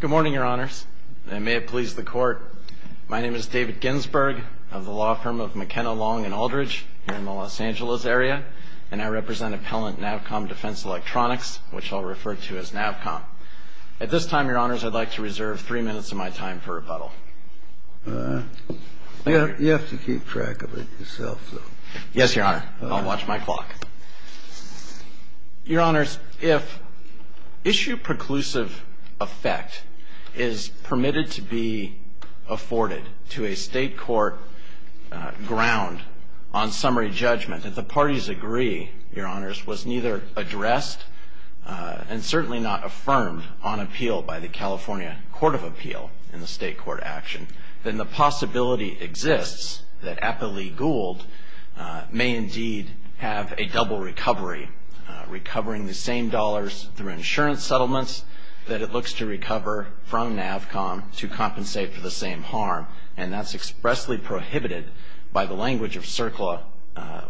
Good morning, Your Honors, and may it please the Court. My name is David Ginsberg, of the law firm of McKenna, Long & Aldridge, here in the Los Angeles area, and I represent appellant Navcom Defense Electronics, which I'll refer to as Navcom. At this time, Your Honors, I'd like to reserve three minutes of my time for rebuttal. You have to keep track of it yourself, though. Yes, Your Honor. I'll watch my clock. Your Honors, if issue preclusive effect is permitted to be afforded to a state court ground, on summary judgment, that the parties agree, Your Honors, was neither addressed and certainly not affirmed on appeal by the California Court of Appeal in the state court action, then the possibility exists that Appellee Gould may indeed have a double recovery, recovering the same dollars through insurance settlements that it looks to recover from Navcom to compensate for the same harm, and that's expressly prohibited by the language of CERCLA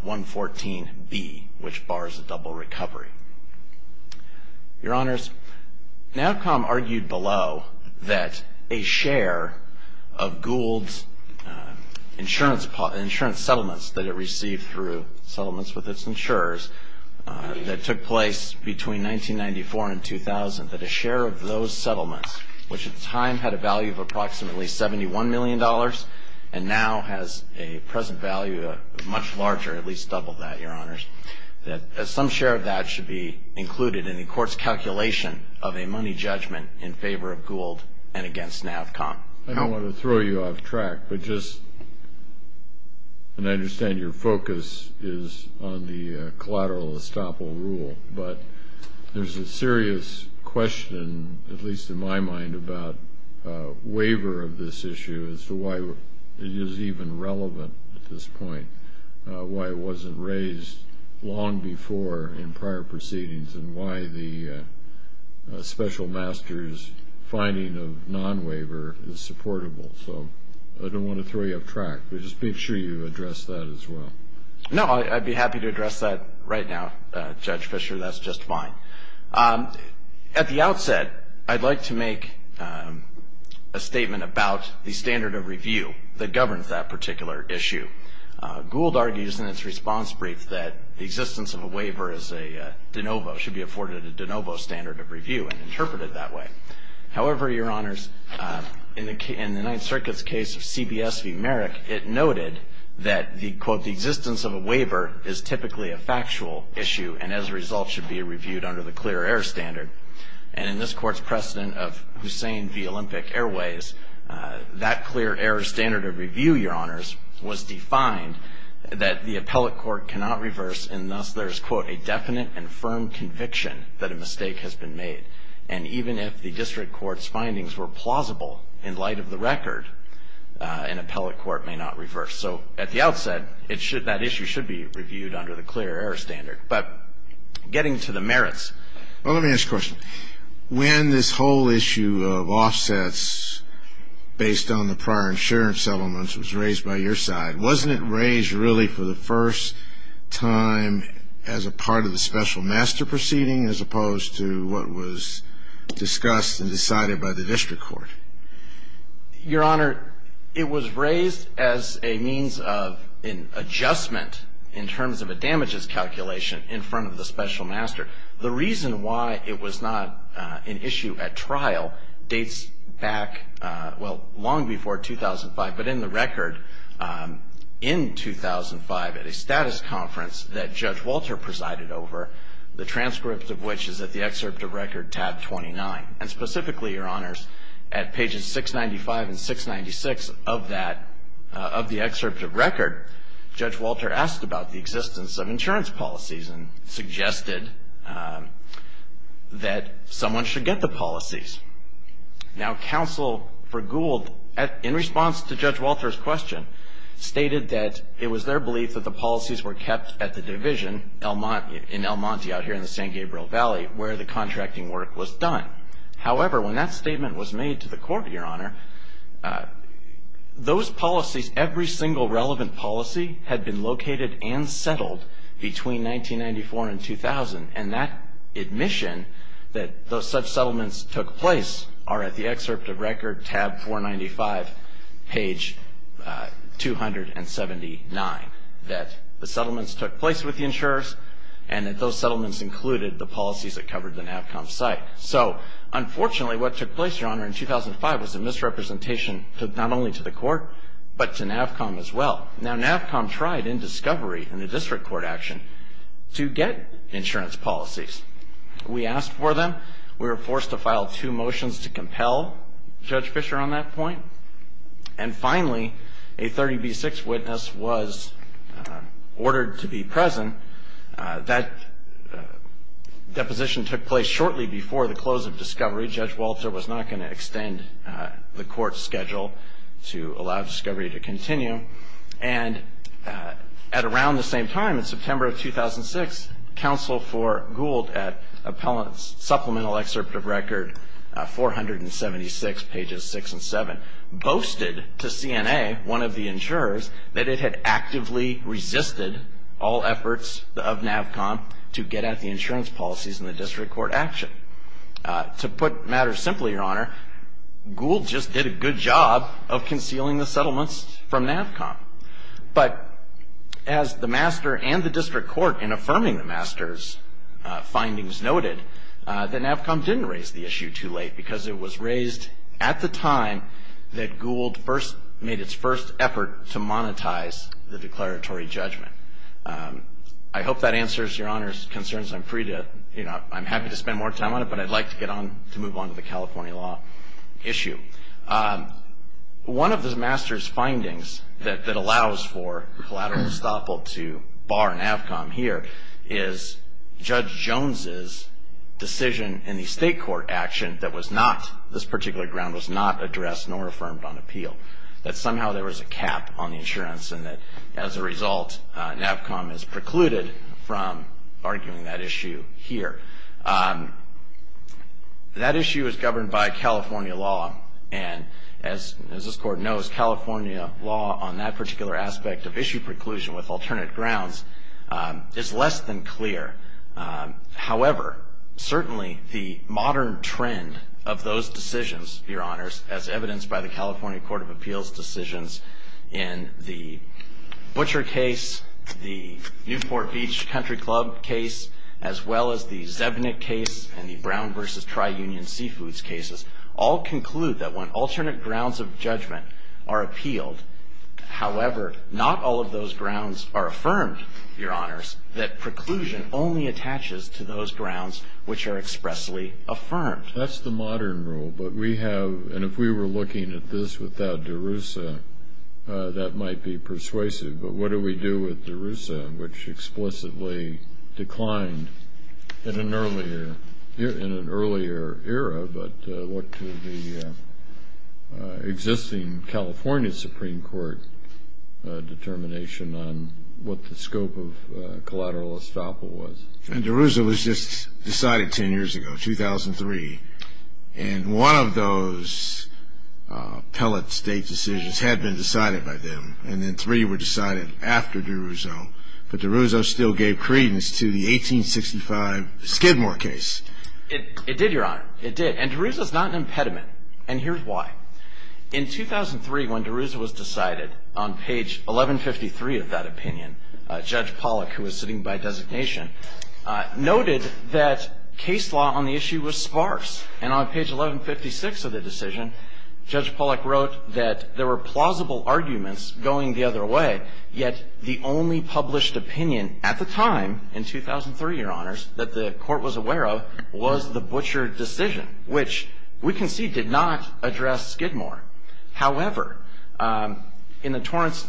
114B, which bars a double recovery. Your Honors, Navcom argued below that a share of Gould's insurance settlements that it received through settlements with its insurers that took place between 1994 and 2000, that a share of those settlements, which at the time had a value of approximately $71 million, and now has a present value of much larger, at least double that, Your Honors, that some share of that should be included in the court's calculation of a money judgment in favor of Gould and against Navcom. I don't want to throw you off track, but just, and I understand your focus is on the collateral estoppel rule, but there's a serious question, at least in my mind, about waiver of this in prior proceedings and why the special master's finding of non-waiver is supportable. So, I don't want to throw you off track, but just make sure you address that as well. No, I'd be happy to address that right now, Judge Fischer, that's just fine. At the outset, I'd like to make a statement about the standard of review that governs that particular issue. Gould argues in its response brief that the existence of a waiver is a de novo, should be afforded a de novo standard of review and interpreted that way. However, Your Honors, in the Ninth Circuit's case of CBS v. Merrick, it noted that the quote, the existence of a waiver is typically a factual issue and as a result should be reviewed under the clear air standard. And in this court's precedent of Hussein v. Olympic Airways, that clear air standard of review, Your Honors, was defined that the appellate court cannot reverse and thus there is quote, a definite and firm conviction that a mistake has been made. And even if the district court's findings were plausible in light of the record, an appellate court may not reverse. So, at the outset, that issue should be reviewed under the clear air standard. But getting to the merits. Well, let me ask a question. When this whole issue of offsets based on the prior insurance settlements was raised by your side, wasn't it raised really for the first time as a part of the special master proceeding as opposed to what was discussed and decided by the district court? Your Honor, it was raised as a means of an adjustment in terms of a damages calculation in front of the special master. The reason why it was not an issue at trial dates back, well, long before 2005. But in the record in 2005 at a status conference that Judge Walter presided over, the transcript of which is at the excerpt of record tab 29. And specifically, Your Honors, at pages 695 and 696 of that, of the excerpt of record, Judge Walter asked about the existence of insurance policies and suggested that someone should get the policies. Now, counsel for Gould, in response to Judge Walter's question, stated that it was their belief that the policies were kept at the division in El Monte out here in the San Gabriel Valley where the contracting work was done. However, when that statement was made to the court, Your Honor, those policies, every single relevant policy had been located and settled between 1994 and 2000. And that admission that those such settlements took place are at the excerpt of record tab 495, page 279, that the settlements took place with the insurers and that those settlements included the policies that covered the NAVCOM site. So unfortunately, what took place, Your Honor, in 2005 was a misrepresentation not only to the court but to NAVCOM as well. Now, NAVCOM tried in discovery in the district court action to get insurance policies. We asked for them. We were forced to file two motions to compel Judge Fischer on that point. And finally, a 30B6 witness was ordered to be present. discovery. Judge Walter was not going to extend the court's schedule to allow discovery to continue. And at around the same time, in September of 2006, counsel for Gould at Supplemental Excerpt of Record 476, pages 6 and 7, boasted to CNA, one of the insurers, that it had actively resisted all efforts of NAVCOM to get at the insurance policies in the district court action. To put matters simply, Your Honor, Gould just did a good job of concealing the settlements from NAVCOM. But as the master and the district court in affirming the master's findings noted, that NAVCOM didn't raise the issue too late because it was raised at the time that Gould first made its first effort to monetize the declaratory judgment. I hope that answers Your Honor's concerns. I'm happy to spend more time on it, but I'd like to move on to the California law issue. One of the master's findings that allows for collateral estoppel to bar NAVCOM here is Judge Jones' decision in the state court action that this particular ground was not addressed nor affirmed on appeal. That somehow there was a cap on the insurance and that as a result, NAVCOM is precluded from arguing that issue here. That issue is governed by California law. And as this court knows, California law on that particular aspect of issue preclusion with alternate grounds is less than clear. However, certainly the modern trend of those decisions, Your Honors, as evidenced by the Beach Country Club case, as well as the Zebnik case and the Brown v. Tri-Union Seafoods cases, all conclude that when alternate grounds of judgment are appealed, however, not all of those grounds are affirmed, Your Honors, that preclusion only attaches to those grounds which are expressly affirmed. That's the modern rule, but we have, and if we were looking at this without DeRusso, that might be persuasive. But what do we do with DeRusso, which explicitly declined in an earlier era, but what to the existing California Supreme Court determination on what the scope of collateral estoppel was. And DeRusso was just decided 10 years ago, 2003, and one of those pellet state decisions had been decided by them, and then three were decided after DeRusso, but DeRusso still gave credence to the 1865 Skidmore case. It did, Your Honor. It did. And DeRusso's not an impediment. And here's why. In 2003, when DeRusso was decided, on page 1153 of that opinion, Judge Pollack, who was sitting by designation, noted that case law on the issue was sparse. And on page 1156 of the decision, Judge Pollack wrote that there were plausible arguments going the other way, yet the only published opinion at the time, in 2003, Your Honors, that the Court was aware of was the Butcher decision, which we can see did not address Skidmore. However, in the Torrance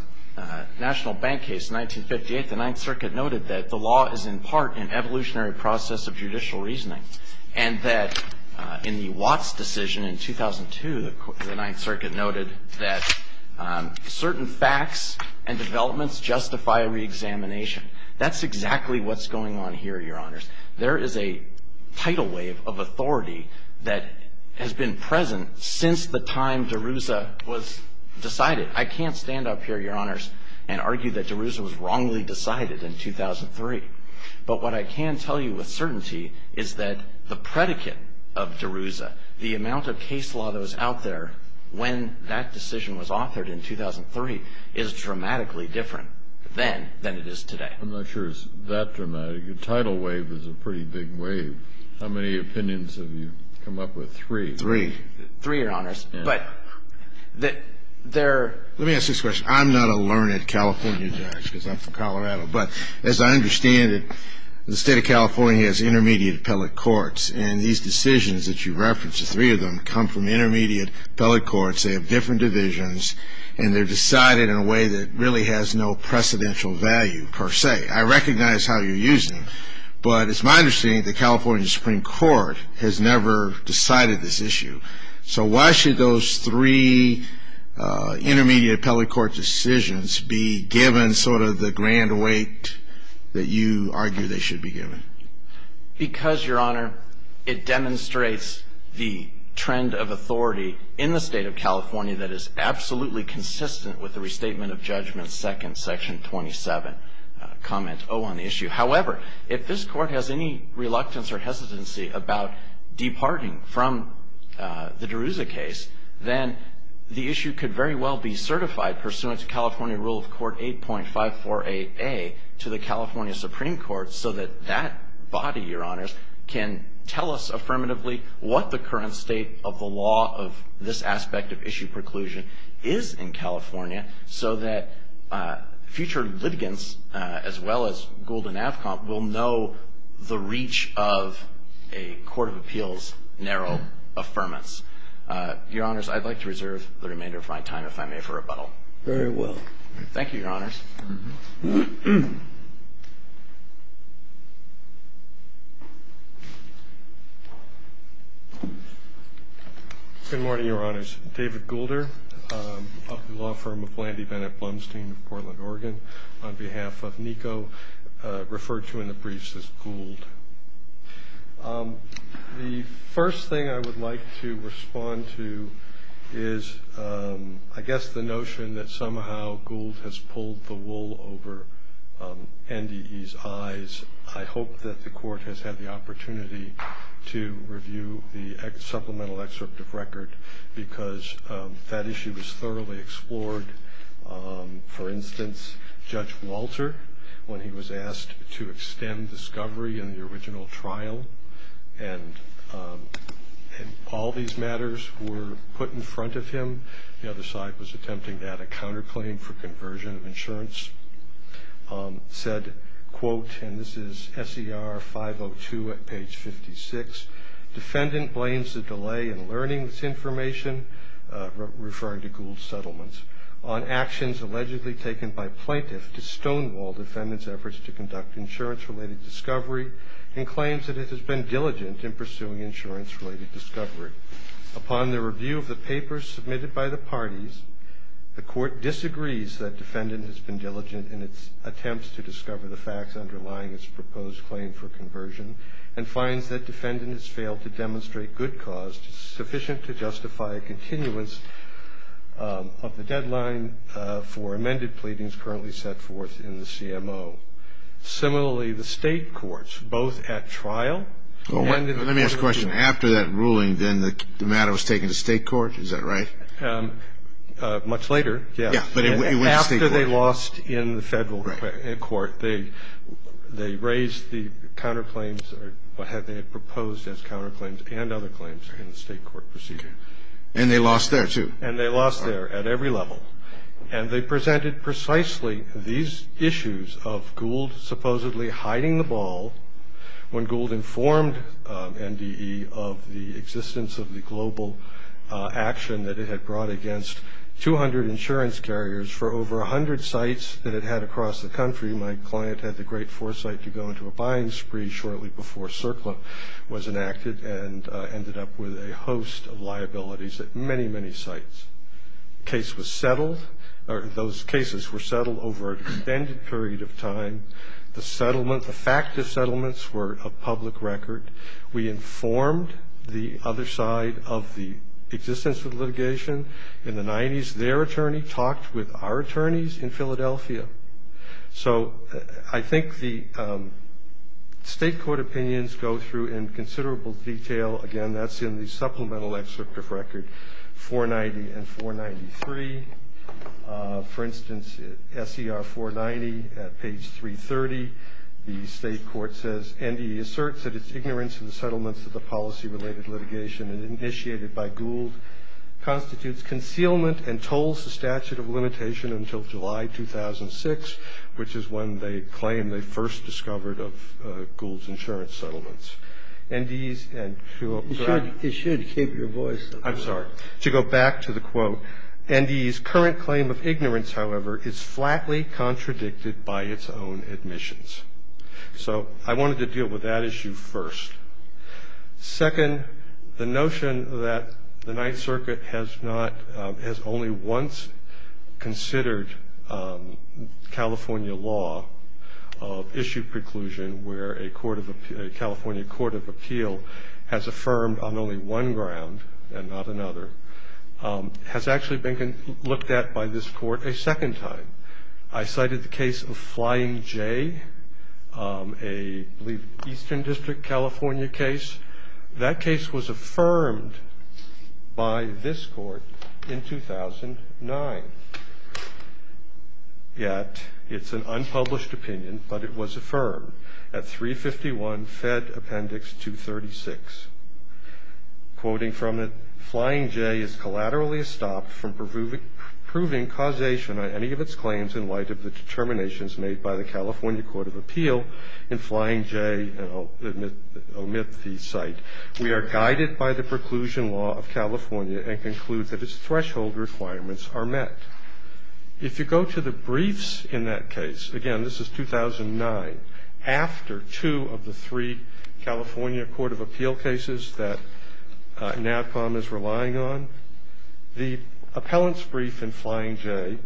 National Bank case, 1958, the Ninth Circuit noted that the law is, in part, an evolutionary process of judicial reasoning, and that in the Watts decision in 2002, the Ninth Circuit noted that certain facts and developments justify a reexamination. That's exactly what's going on here, Your Honors. There is a tidal wave of authority that has been present since the time DeRusso was decided. I can't stand up here, Your Honors, and argue that DeRusso was wrongly decided in 2003. But what I can tell you with certainty is that the predicate of DeRusso, the amount of case law that was out there when that decision was authored in 2003, is dramatically different than it is today. I'm not sure it's that dramatic. A tidal wave is a pretty big wave. How many opinions have you come up with? Three. Three. Three, Your Honors. Let me ask you this question. I'm not a learned California judge, because I'm from Colorado. But as I understand it, the state of California has intermediate appellate courts, and these decisions that you referenced, the three of them, come from intermediate appellate courts. They have different divisions, and they're decided in a way that really has no precedential value, per se. I recognize how you use them, but it's my understanding that the California Supreme Court has never decided this issue. So why should those three intermediate appellate court decisions be given sort of the grand weight that you argue they should be given? Because, Your Honor, it demonstrates the trend of authority in the state of California that is absolutely consistent with the restatement of judgment second, section 27, comment O on the issue. However, if this court has any reluctance or hesitancy about departing from the Derouza case, then the issue could very well be certified pursuant to California Rule of Court 8.548A to the California Supreme Court so that that body, Your Honors, can tell us affirmatively what the current state of the law of this aspect of issue preclusion is in California so that future litigants, as well as Gould and Avcom, will know the reach of a court of appeals narrow affirmance. Your Honors, I'd like to reserve the remainder of my time, if I may, for rebuttal. Very well. Thank you, Your Honors. Good morning, Your Honors. David Goulder of the law firm of Landy Bennett Blumstein of Portland, Oregon, on behalf of NICO, referred to in the briefs as Gould. The first thing I would like to respond to is, I guess, the notion that somehow Gould has pulled the wool over NDE's eyes. I hope that the court has had the opportunity to review the supplemental excerpt of record because that issue was thoroughly explored. For instance, Judge Walter, when he was asked to extend discovery in the original trial and all these matters were put in front of him, the other side was attempting to add a counterclaim for conversion of insurance, said, quote, and this is SER 502 at page 56, defendant blames the delay in learning this information, referring to Gould's settlements, on actions allegedly taken by plaintiffs to stonewall defendant's efforts to conduct insurance-related discovery and claims that it has been diligent in pursuing insurance-related discovery. Upon the review of the papers submitted by the parties, the court disagrees that defendant has been diligent in its attempts to discover the facts underlying its proposed claim for and finds that defendant has failed to demonstrate good cause sufficient to justify a continuance of the deadline for amended pleadings currently set forth in the CMO. Similarly, the state courts, both at trial and in the court of arbitration. Let me ask a question. After that ruling, then, the matter was taken to state court, is that right? Much later, yes. Yeah, but it went to state court. After they lost in the federal court, they raised the counterclaims or what they had proposed as counterclaims and other claims in the state court proceeding. And they lost there, too. And they lost there at every level. And they presented precisely these issues of Gould supposedly hiding the ball when Gould informed NDE of the existence of the global action that it had brought against 200 insurance carriers for over 100 sites that it had across the country. My client had the great foresight to go into a buying spree shortly before CERCLA was enacted and ended up with a host of liabilities at many, many sites. Case was settled or those cases were settled over an extended period of time. The settlement, the fact of settlements were a public record. We informed the other side of the existence of litigation in the 90s. Their attorney talked with our attorneys in Philadelphia. So I think the state court opinions go through in considerable detail. Again, that's in the supplemental excerpt of record 490 and 493. For instance, SCR 490 at page 330, the state court says NDE asserts that its ignorance in the settlements of the policy related litigation initiated by Gould constitutes concealment and tolls the statute of limitation until July 2006, which is when they claim they first discovered of Gould's insurance settlements. NDE's and you should keep your voice. I'm sorry to go back to the quote. NDE's current claim of ignorance, however, is flatly contradicted by its own admissions. So I wanted to deal with that issue first. Second, the notion that the Ninth Circuit has not has only once considered California law of issue preclusion where a court of a California court of appeal has affirmed on only one ground and not another has actually been looked at by this court a second time. I cited the case of Flying J, a Eastern District, California case. That case was affirmed by this court in 2009. Yet it's an unpublished opinion, but it was affirmed at 351 Fed Appendix 236, quoting from it, Flying J is collaterally stopped from proving causation on any of its claims in light of the determinations made by the California Court of Appeal in Flying J, omit the site. We are guided by the preclusion law of California and conclude that its threshold requirements are met. If you go to the briefs in that case, again, this is 2009 after two of the three California Court of Appeal cases that Natcom is relying on. The appellant's brief in Flying J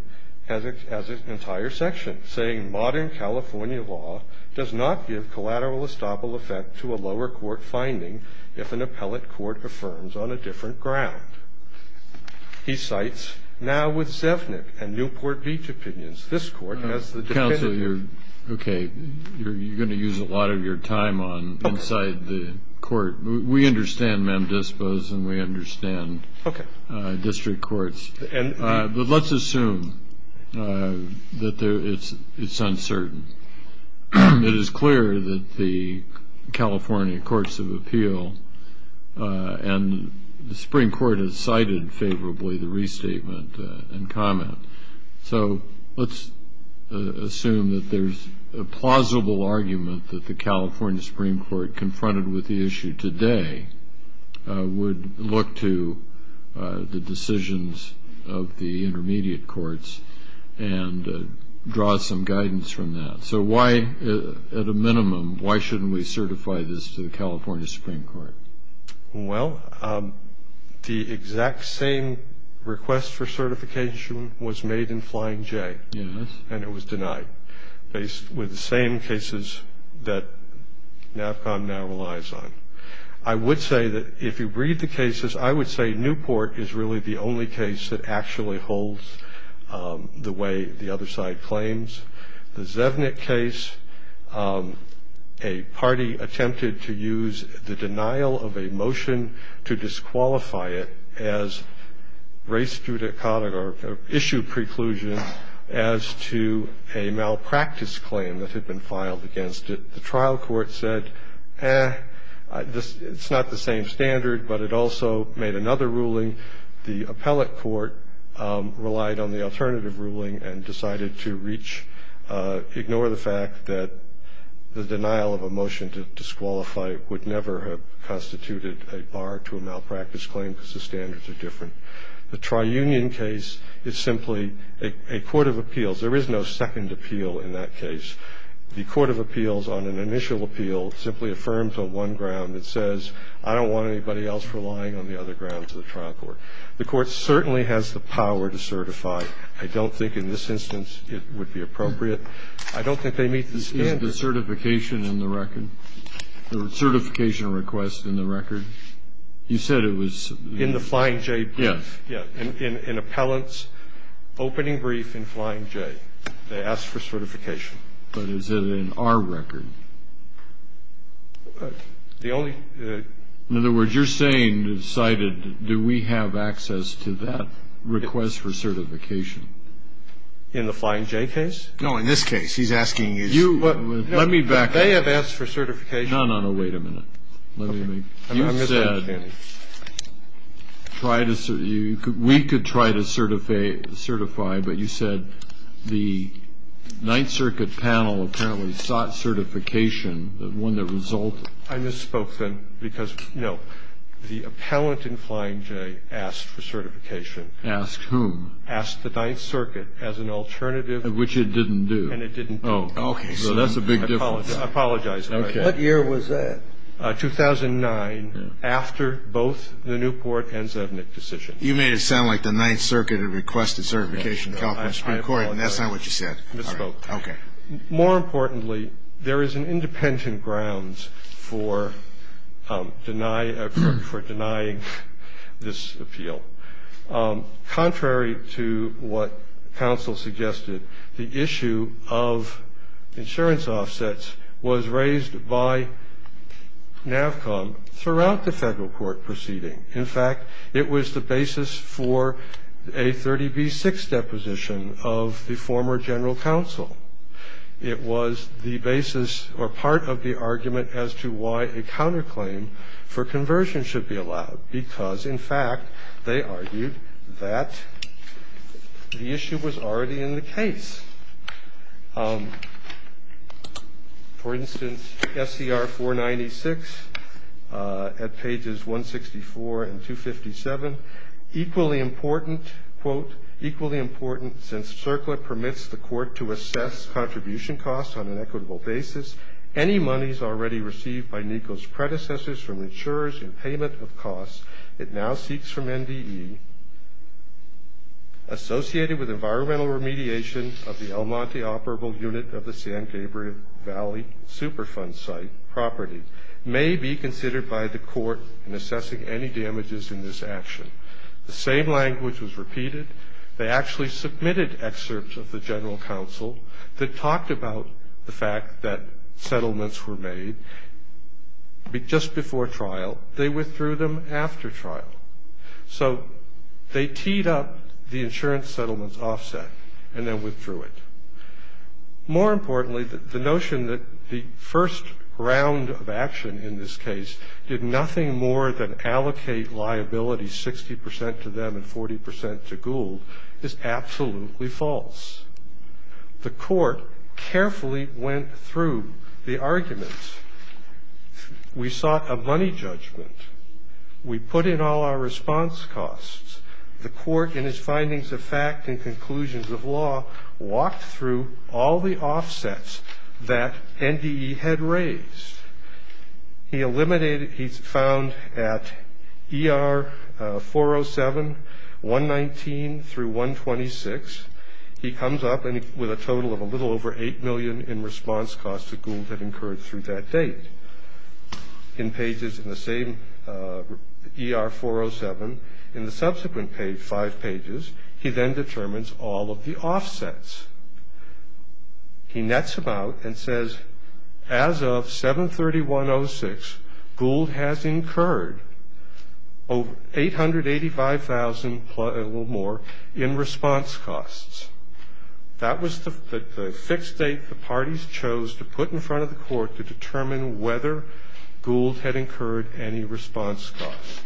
has an entire section saying modern California law does not give collateral estoppel effect to a lower court finding if an appellate court affirms on a different ground. He cites now with Sevnik and Newport Beach opinions. This court has the. Counselor, you're OK. You're going to use a lot of your time on inside the court. We understand, ma'am. Dispose and we understand. OK. District courts. And let's assume that it's uncertain. It is clear that the California Courts of Appeal and the Supreme Court has cited favorably the restatement and comment. So let's assume that there's a plausible argument that the California Supreme Court confronted with the issue today would look to the decisions of the intermediate courts and draw some guidance from that. So why, at a minimum, why shouldn't we certify this to the California Supreme Court? Well, the exact same request for certification was made in Flying J and it was denied based with the same cases that now relies on. I would say that if you read the cases, I would say Newport is really the only case that actually holds the way the other side claims. The Zevnik case, a party attempted to use the denial of a motion to disqualify it as race judicata or issue preclusion as to a malpractice claim that had been filed against it. The trial court said, eh, it's not the same standard, but it also made another ruling. The appellate court relied on the alternative ruling and decided to reach, ignore the fact that the denial of a motion to disqualify would never have constituted a bar to a malpractice claim because the standards are different. The tri-union case is simply a court of appeals. There is no second appeal in that case. The court of appeals on an initial appeal simply affirms on one ground that says, I don't want anybody else relying on the other grounds of the trial court. The court certainly has the power to certify. I don't think in this instance it would be appropriate. I don't think they meet the standards. The certification in the record, the certification request in the record. You said it was in the Flying J. Yes. Yeah. In an appellate's opening brief in Flying J, they asked for certification. But is it in our record? The only In other words, you're saying, cited, do we have access to that request for certification? In the Flying J case? No, in this case. He's asking you. You Let me back up. They have asked for certification. No, no, no. Wait a minute. Let me make. You said. I'm not going to say it, Janney. Try to We could try to certify, certify, but you said the Ninth Circuit panel apparently sought certification, the one that resulted. I misspoke then because, no, the appellant in Flying J asked for certification. Asked whom? Asked the Ninth Circuit as an alternative. Which it didn't do. And it didn't do. Okay. So that's a big difference. Apologize. Okay. What year was that? 2009, after both the Newport and Zevnik decisions. You made it sound like the Ninth Circuit had requested certification in the California Supreme Court, and that's not what you said. I misspoke. Okay. More importantly, there is an independent grounds for denying this appeal. Contrary to what counsel suggested, the issue of insurance offsets was raised by NAVCOM throughout the federal court proceeding. In fact, it was the basis for a 30B6 deposition of the former general counsel. It was the basis or part of the argument as to why a counterclaim for conversion should be allowed, because, in fact, they argued that the issue was already in the case. For instance, SCR 496 at pages 164 and 257. Equally important, quote, equally important since CERCLA permits the court to assess contribution costs on an equitable basis, any monies already received by NECO's predecessors from insurers in payment of costs it now seeks from NDE associated with environmental remediation of NECO's predecessors. The El Monte operable unit of the San Gabriel Valley Superfund site property may be considered by the court in assessing any damages in this action. The same language was repeated. They actually submitted excerpts of the general counsel that talked about the fact that settlements were made just before trial. They withdrew them after trial. So they teed up the insurance settlement's offset and then withdrew it. More importantly, the notion that the first round of action in this case did nothing more than allocate liability 60% to them and 40% to Gould is absolutely false. The court carefully went through the argument. We sought a money judgment. We put in all our response costs. The court, in its findings of fact and conclusions of law, walked through all the offsets that NDE had raised. He eliminated, he found at ER 407, 119 through 126, he comes up with a total of a little over 8 million in response costs to Gould that occurred through that date. In pages in the same ER 407, in the subsequent five pages, he then determines all of the offsets. He nets them out and says, as of 7-31-06, Gould has incurred 885,000 or more in response costs. That was the fixed date the parties chose to put in front of the court to determine whether Gould had incurred any response costs.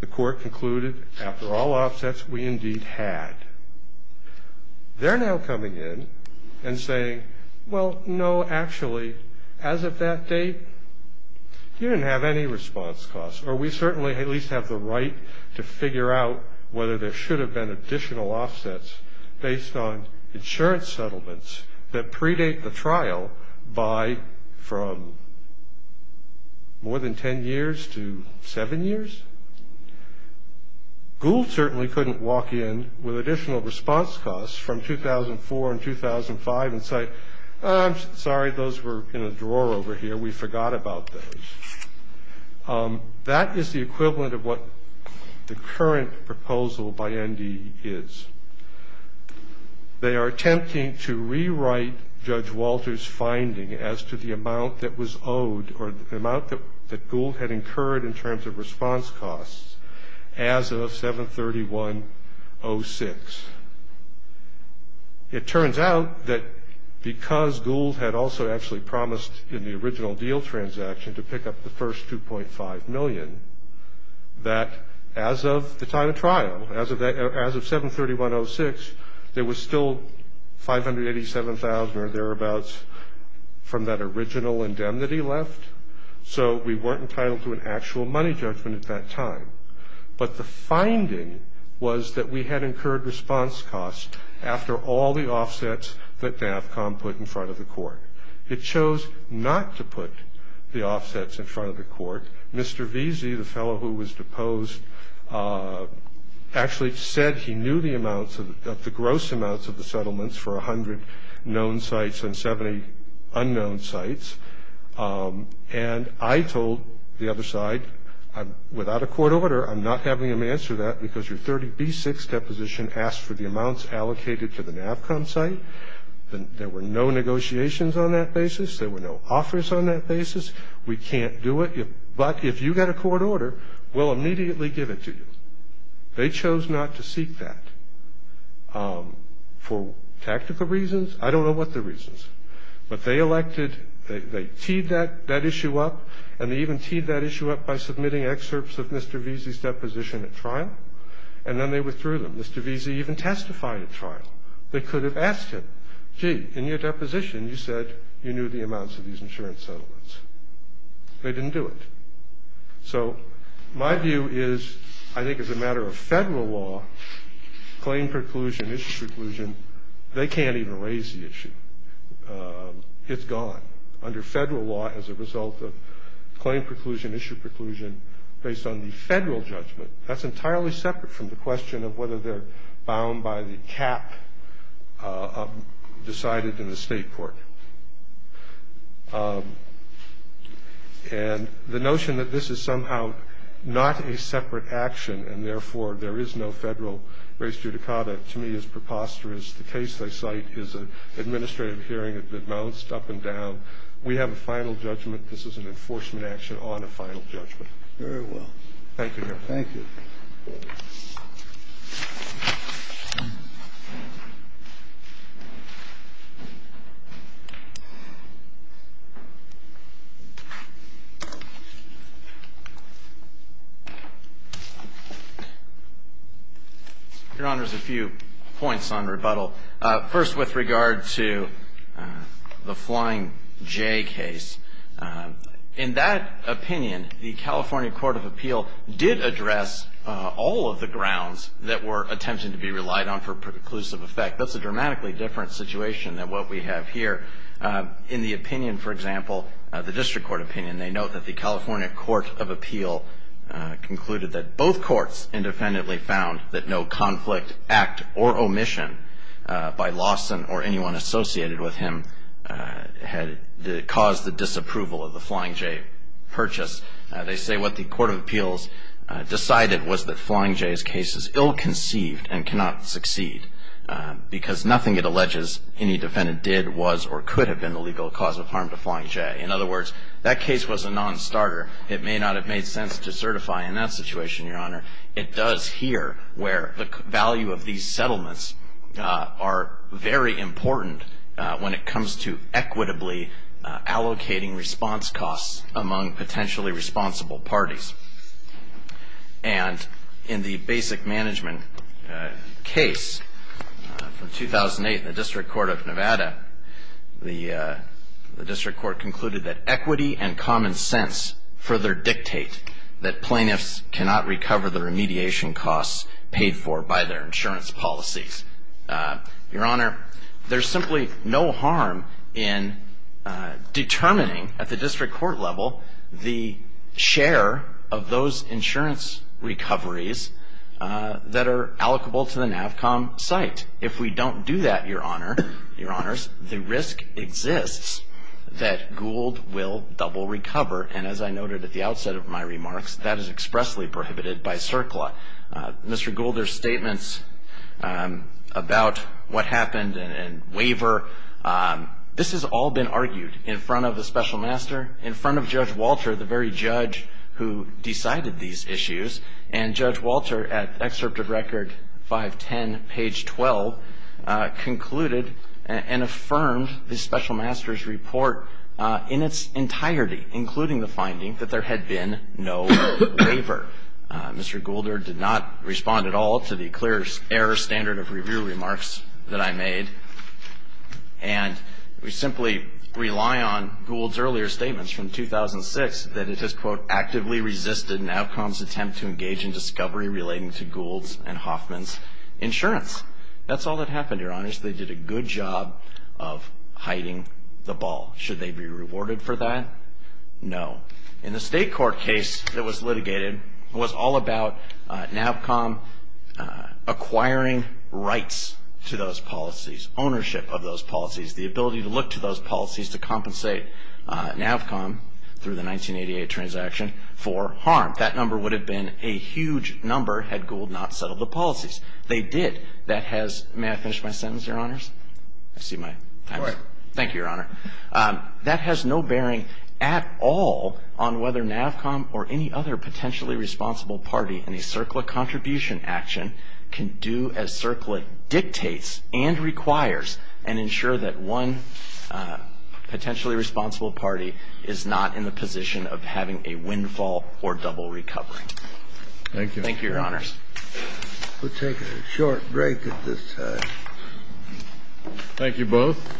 The court concluded, after all offsets, we indeed had. They're now coming in and saying, well, no, actually, as of that date, you didn't have any response costs. Or we certainly at least have the right to figure out whether there should have been additional offsets. Based on insurance settlements that predate the trial by from more than 10 years to 7 years. Gould certainly couldn't walk in with additional response costs from 2004 and 2005 and say, I'm sorry, those were in a drawer over here. We forgot about those. That is the equivalent of what the current proposal by ND is. They are attempting to rewrite Judge Walter's finding as to the amount that was owed, or the amount that Gould had incurred in terms of response costs as of 7-31-06. It turns out that because Gould had also actually promised in the original deal transaction to pick up the first 2.5 million, that as of the time of trial, as of 7-31-06, there was still 587,000 or thereabouts from that original indemnity left. So we weren't entitled to an actual money judgment at that time. But the finding was that we had incurred response costs after all the offsets that NAVCOM put in front of the court. It chose not to put the offsets in front of the court. Mr. Veazey, the fellow who was deposed, actually said he knew the gross amounts of the settlements for 100 known sites and 70 unknown sites. And I told the other side, without a court order, I'm not having them answer that, because your 30B-6 deposition asked for the amounts allocated to the NAVCOM site. There were no negotiations on that basis. There were no offers on that basis. We can't do it. But if you get a court order, we'll immediately give it to you. They chose not to seek that for tactical reasons. I don't know what the reasons. But they elected, they teed that issue up, and they even teed that issue up by submitting excerpts of Mr. Veazey's deposition at trial, and then they withdrew them. Mr. Veazey even testified at trial. They could have asked him, gee, in your deposition you said you knew the amounts of these insurance settlements. They didn't do it. So my view is I think as a matter of federal law, claim preclusion, issue preclusion, they can't even raise the issue. It's gone. Under federal law, as a result of claim preclusion, issue preclusion, based on the federal judgment, that's entirely separate from the question of whether they're bound by the cap decided in the state court. And the notion that this is somehow not a separate action, and therefore there is no federal res judicata, to me is preposterous. The case I cite is an administrative hearing that bounced up and down. We have a final judgment. This is an enforcement action on a final judgment. Very well. Thank you, Your Honor. Thank you. Your Honor, there's a few points on rebuttal. First, with regard to the Flying J case, in that opinion, the California Court of Appeal did address all of the grounds that were attempted to be relied on for preclusive effect. That's a dramatically different situation than what we have here. In the opinion, for example, the district court opinion, they note that the California Court of Appeal concluded that both courts independently found that no conflict, act or omission by Lawson or anyone associated with him had caused the disapproval of the Flying J purchase. They say what the Court of Appeals decided was that Flying J's case is ill-conceived and cannot succeed, because nothing it alleges any defendant did was or could have been the legal cause of harm to Flying J. In other words, that case was a nonstarter. It may not have made sense to certify in that situation, Your Honor. It does here, where the value of these settlements are very important when it comes to equitably allocating response costs among potentially responsible parties. And in the basic management case from 2008, the District Court of Nevada, the district court concluded that equity and common sense further dictate that plaintiffs cannot recover the remediation costs paid for by their insurance policies. Your Honor, there's simply no harm in determining at the district court level the share of those insurance recoveries that are allocable to the NAVCOM site. If we don't do that, Your Honor, Your Honors, the risk exists that Gould will double recover. And as I noted at the outset of my remarks, that is expressly prohibited by CERCLA. Mr. Goulder's statements about what happened and waiver, this has all been argued in front of the special master, in front of Judge Walter, the very judge who decided these issues. And Judge Walter, at excerpt of Record 510, page 12, concluded and affirmed the special master's report in its entirety, including the finding that there had been no waiver. Mr. Goulder did not respond at all to the clear error standard of review remarks that I made. And we simply rely on Gould's earlier statements from 2006 that it has, quote, actively resisted NAVCOM's attempt to engage in discovery relating to Gould's and Hoffman's insurance. That's all that happened, Your Honors. They did a good job of hiding the ball. Should they be rewarded for that? No. In the state court case that was litigated, it was all about NAVCOM acquiring rights to those policies, ownership of those policies, the ability to look to those policies to compensate NAVCOM, through the 1988 transaction, for harm. That number would have been a huge number had Gould not settled the policies. They did. That has, may I finish my sentence, Your Honors? I see my time is up. Go ahead. Thank you, Your Honor. That has no bearing at all on whether NAVCOM or any other potentially responsible party in a CERCLA contribution action can do as CERCLA dictates and requires and ensure that one potentially responsible party is not in the position of having a windfall or double recovery. Thank you. Thank you, Your Honors. We'll take a short break at this time. Thank you both.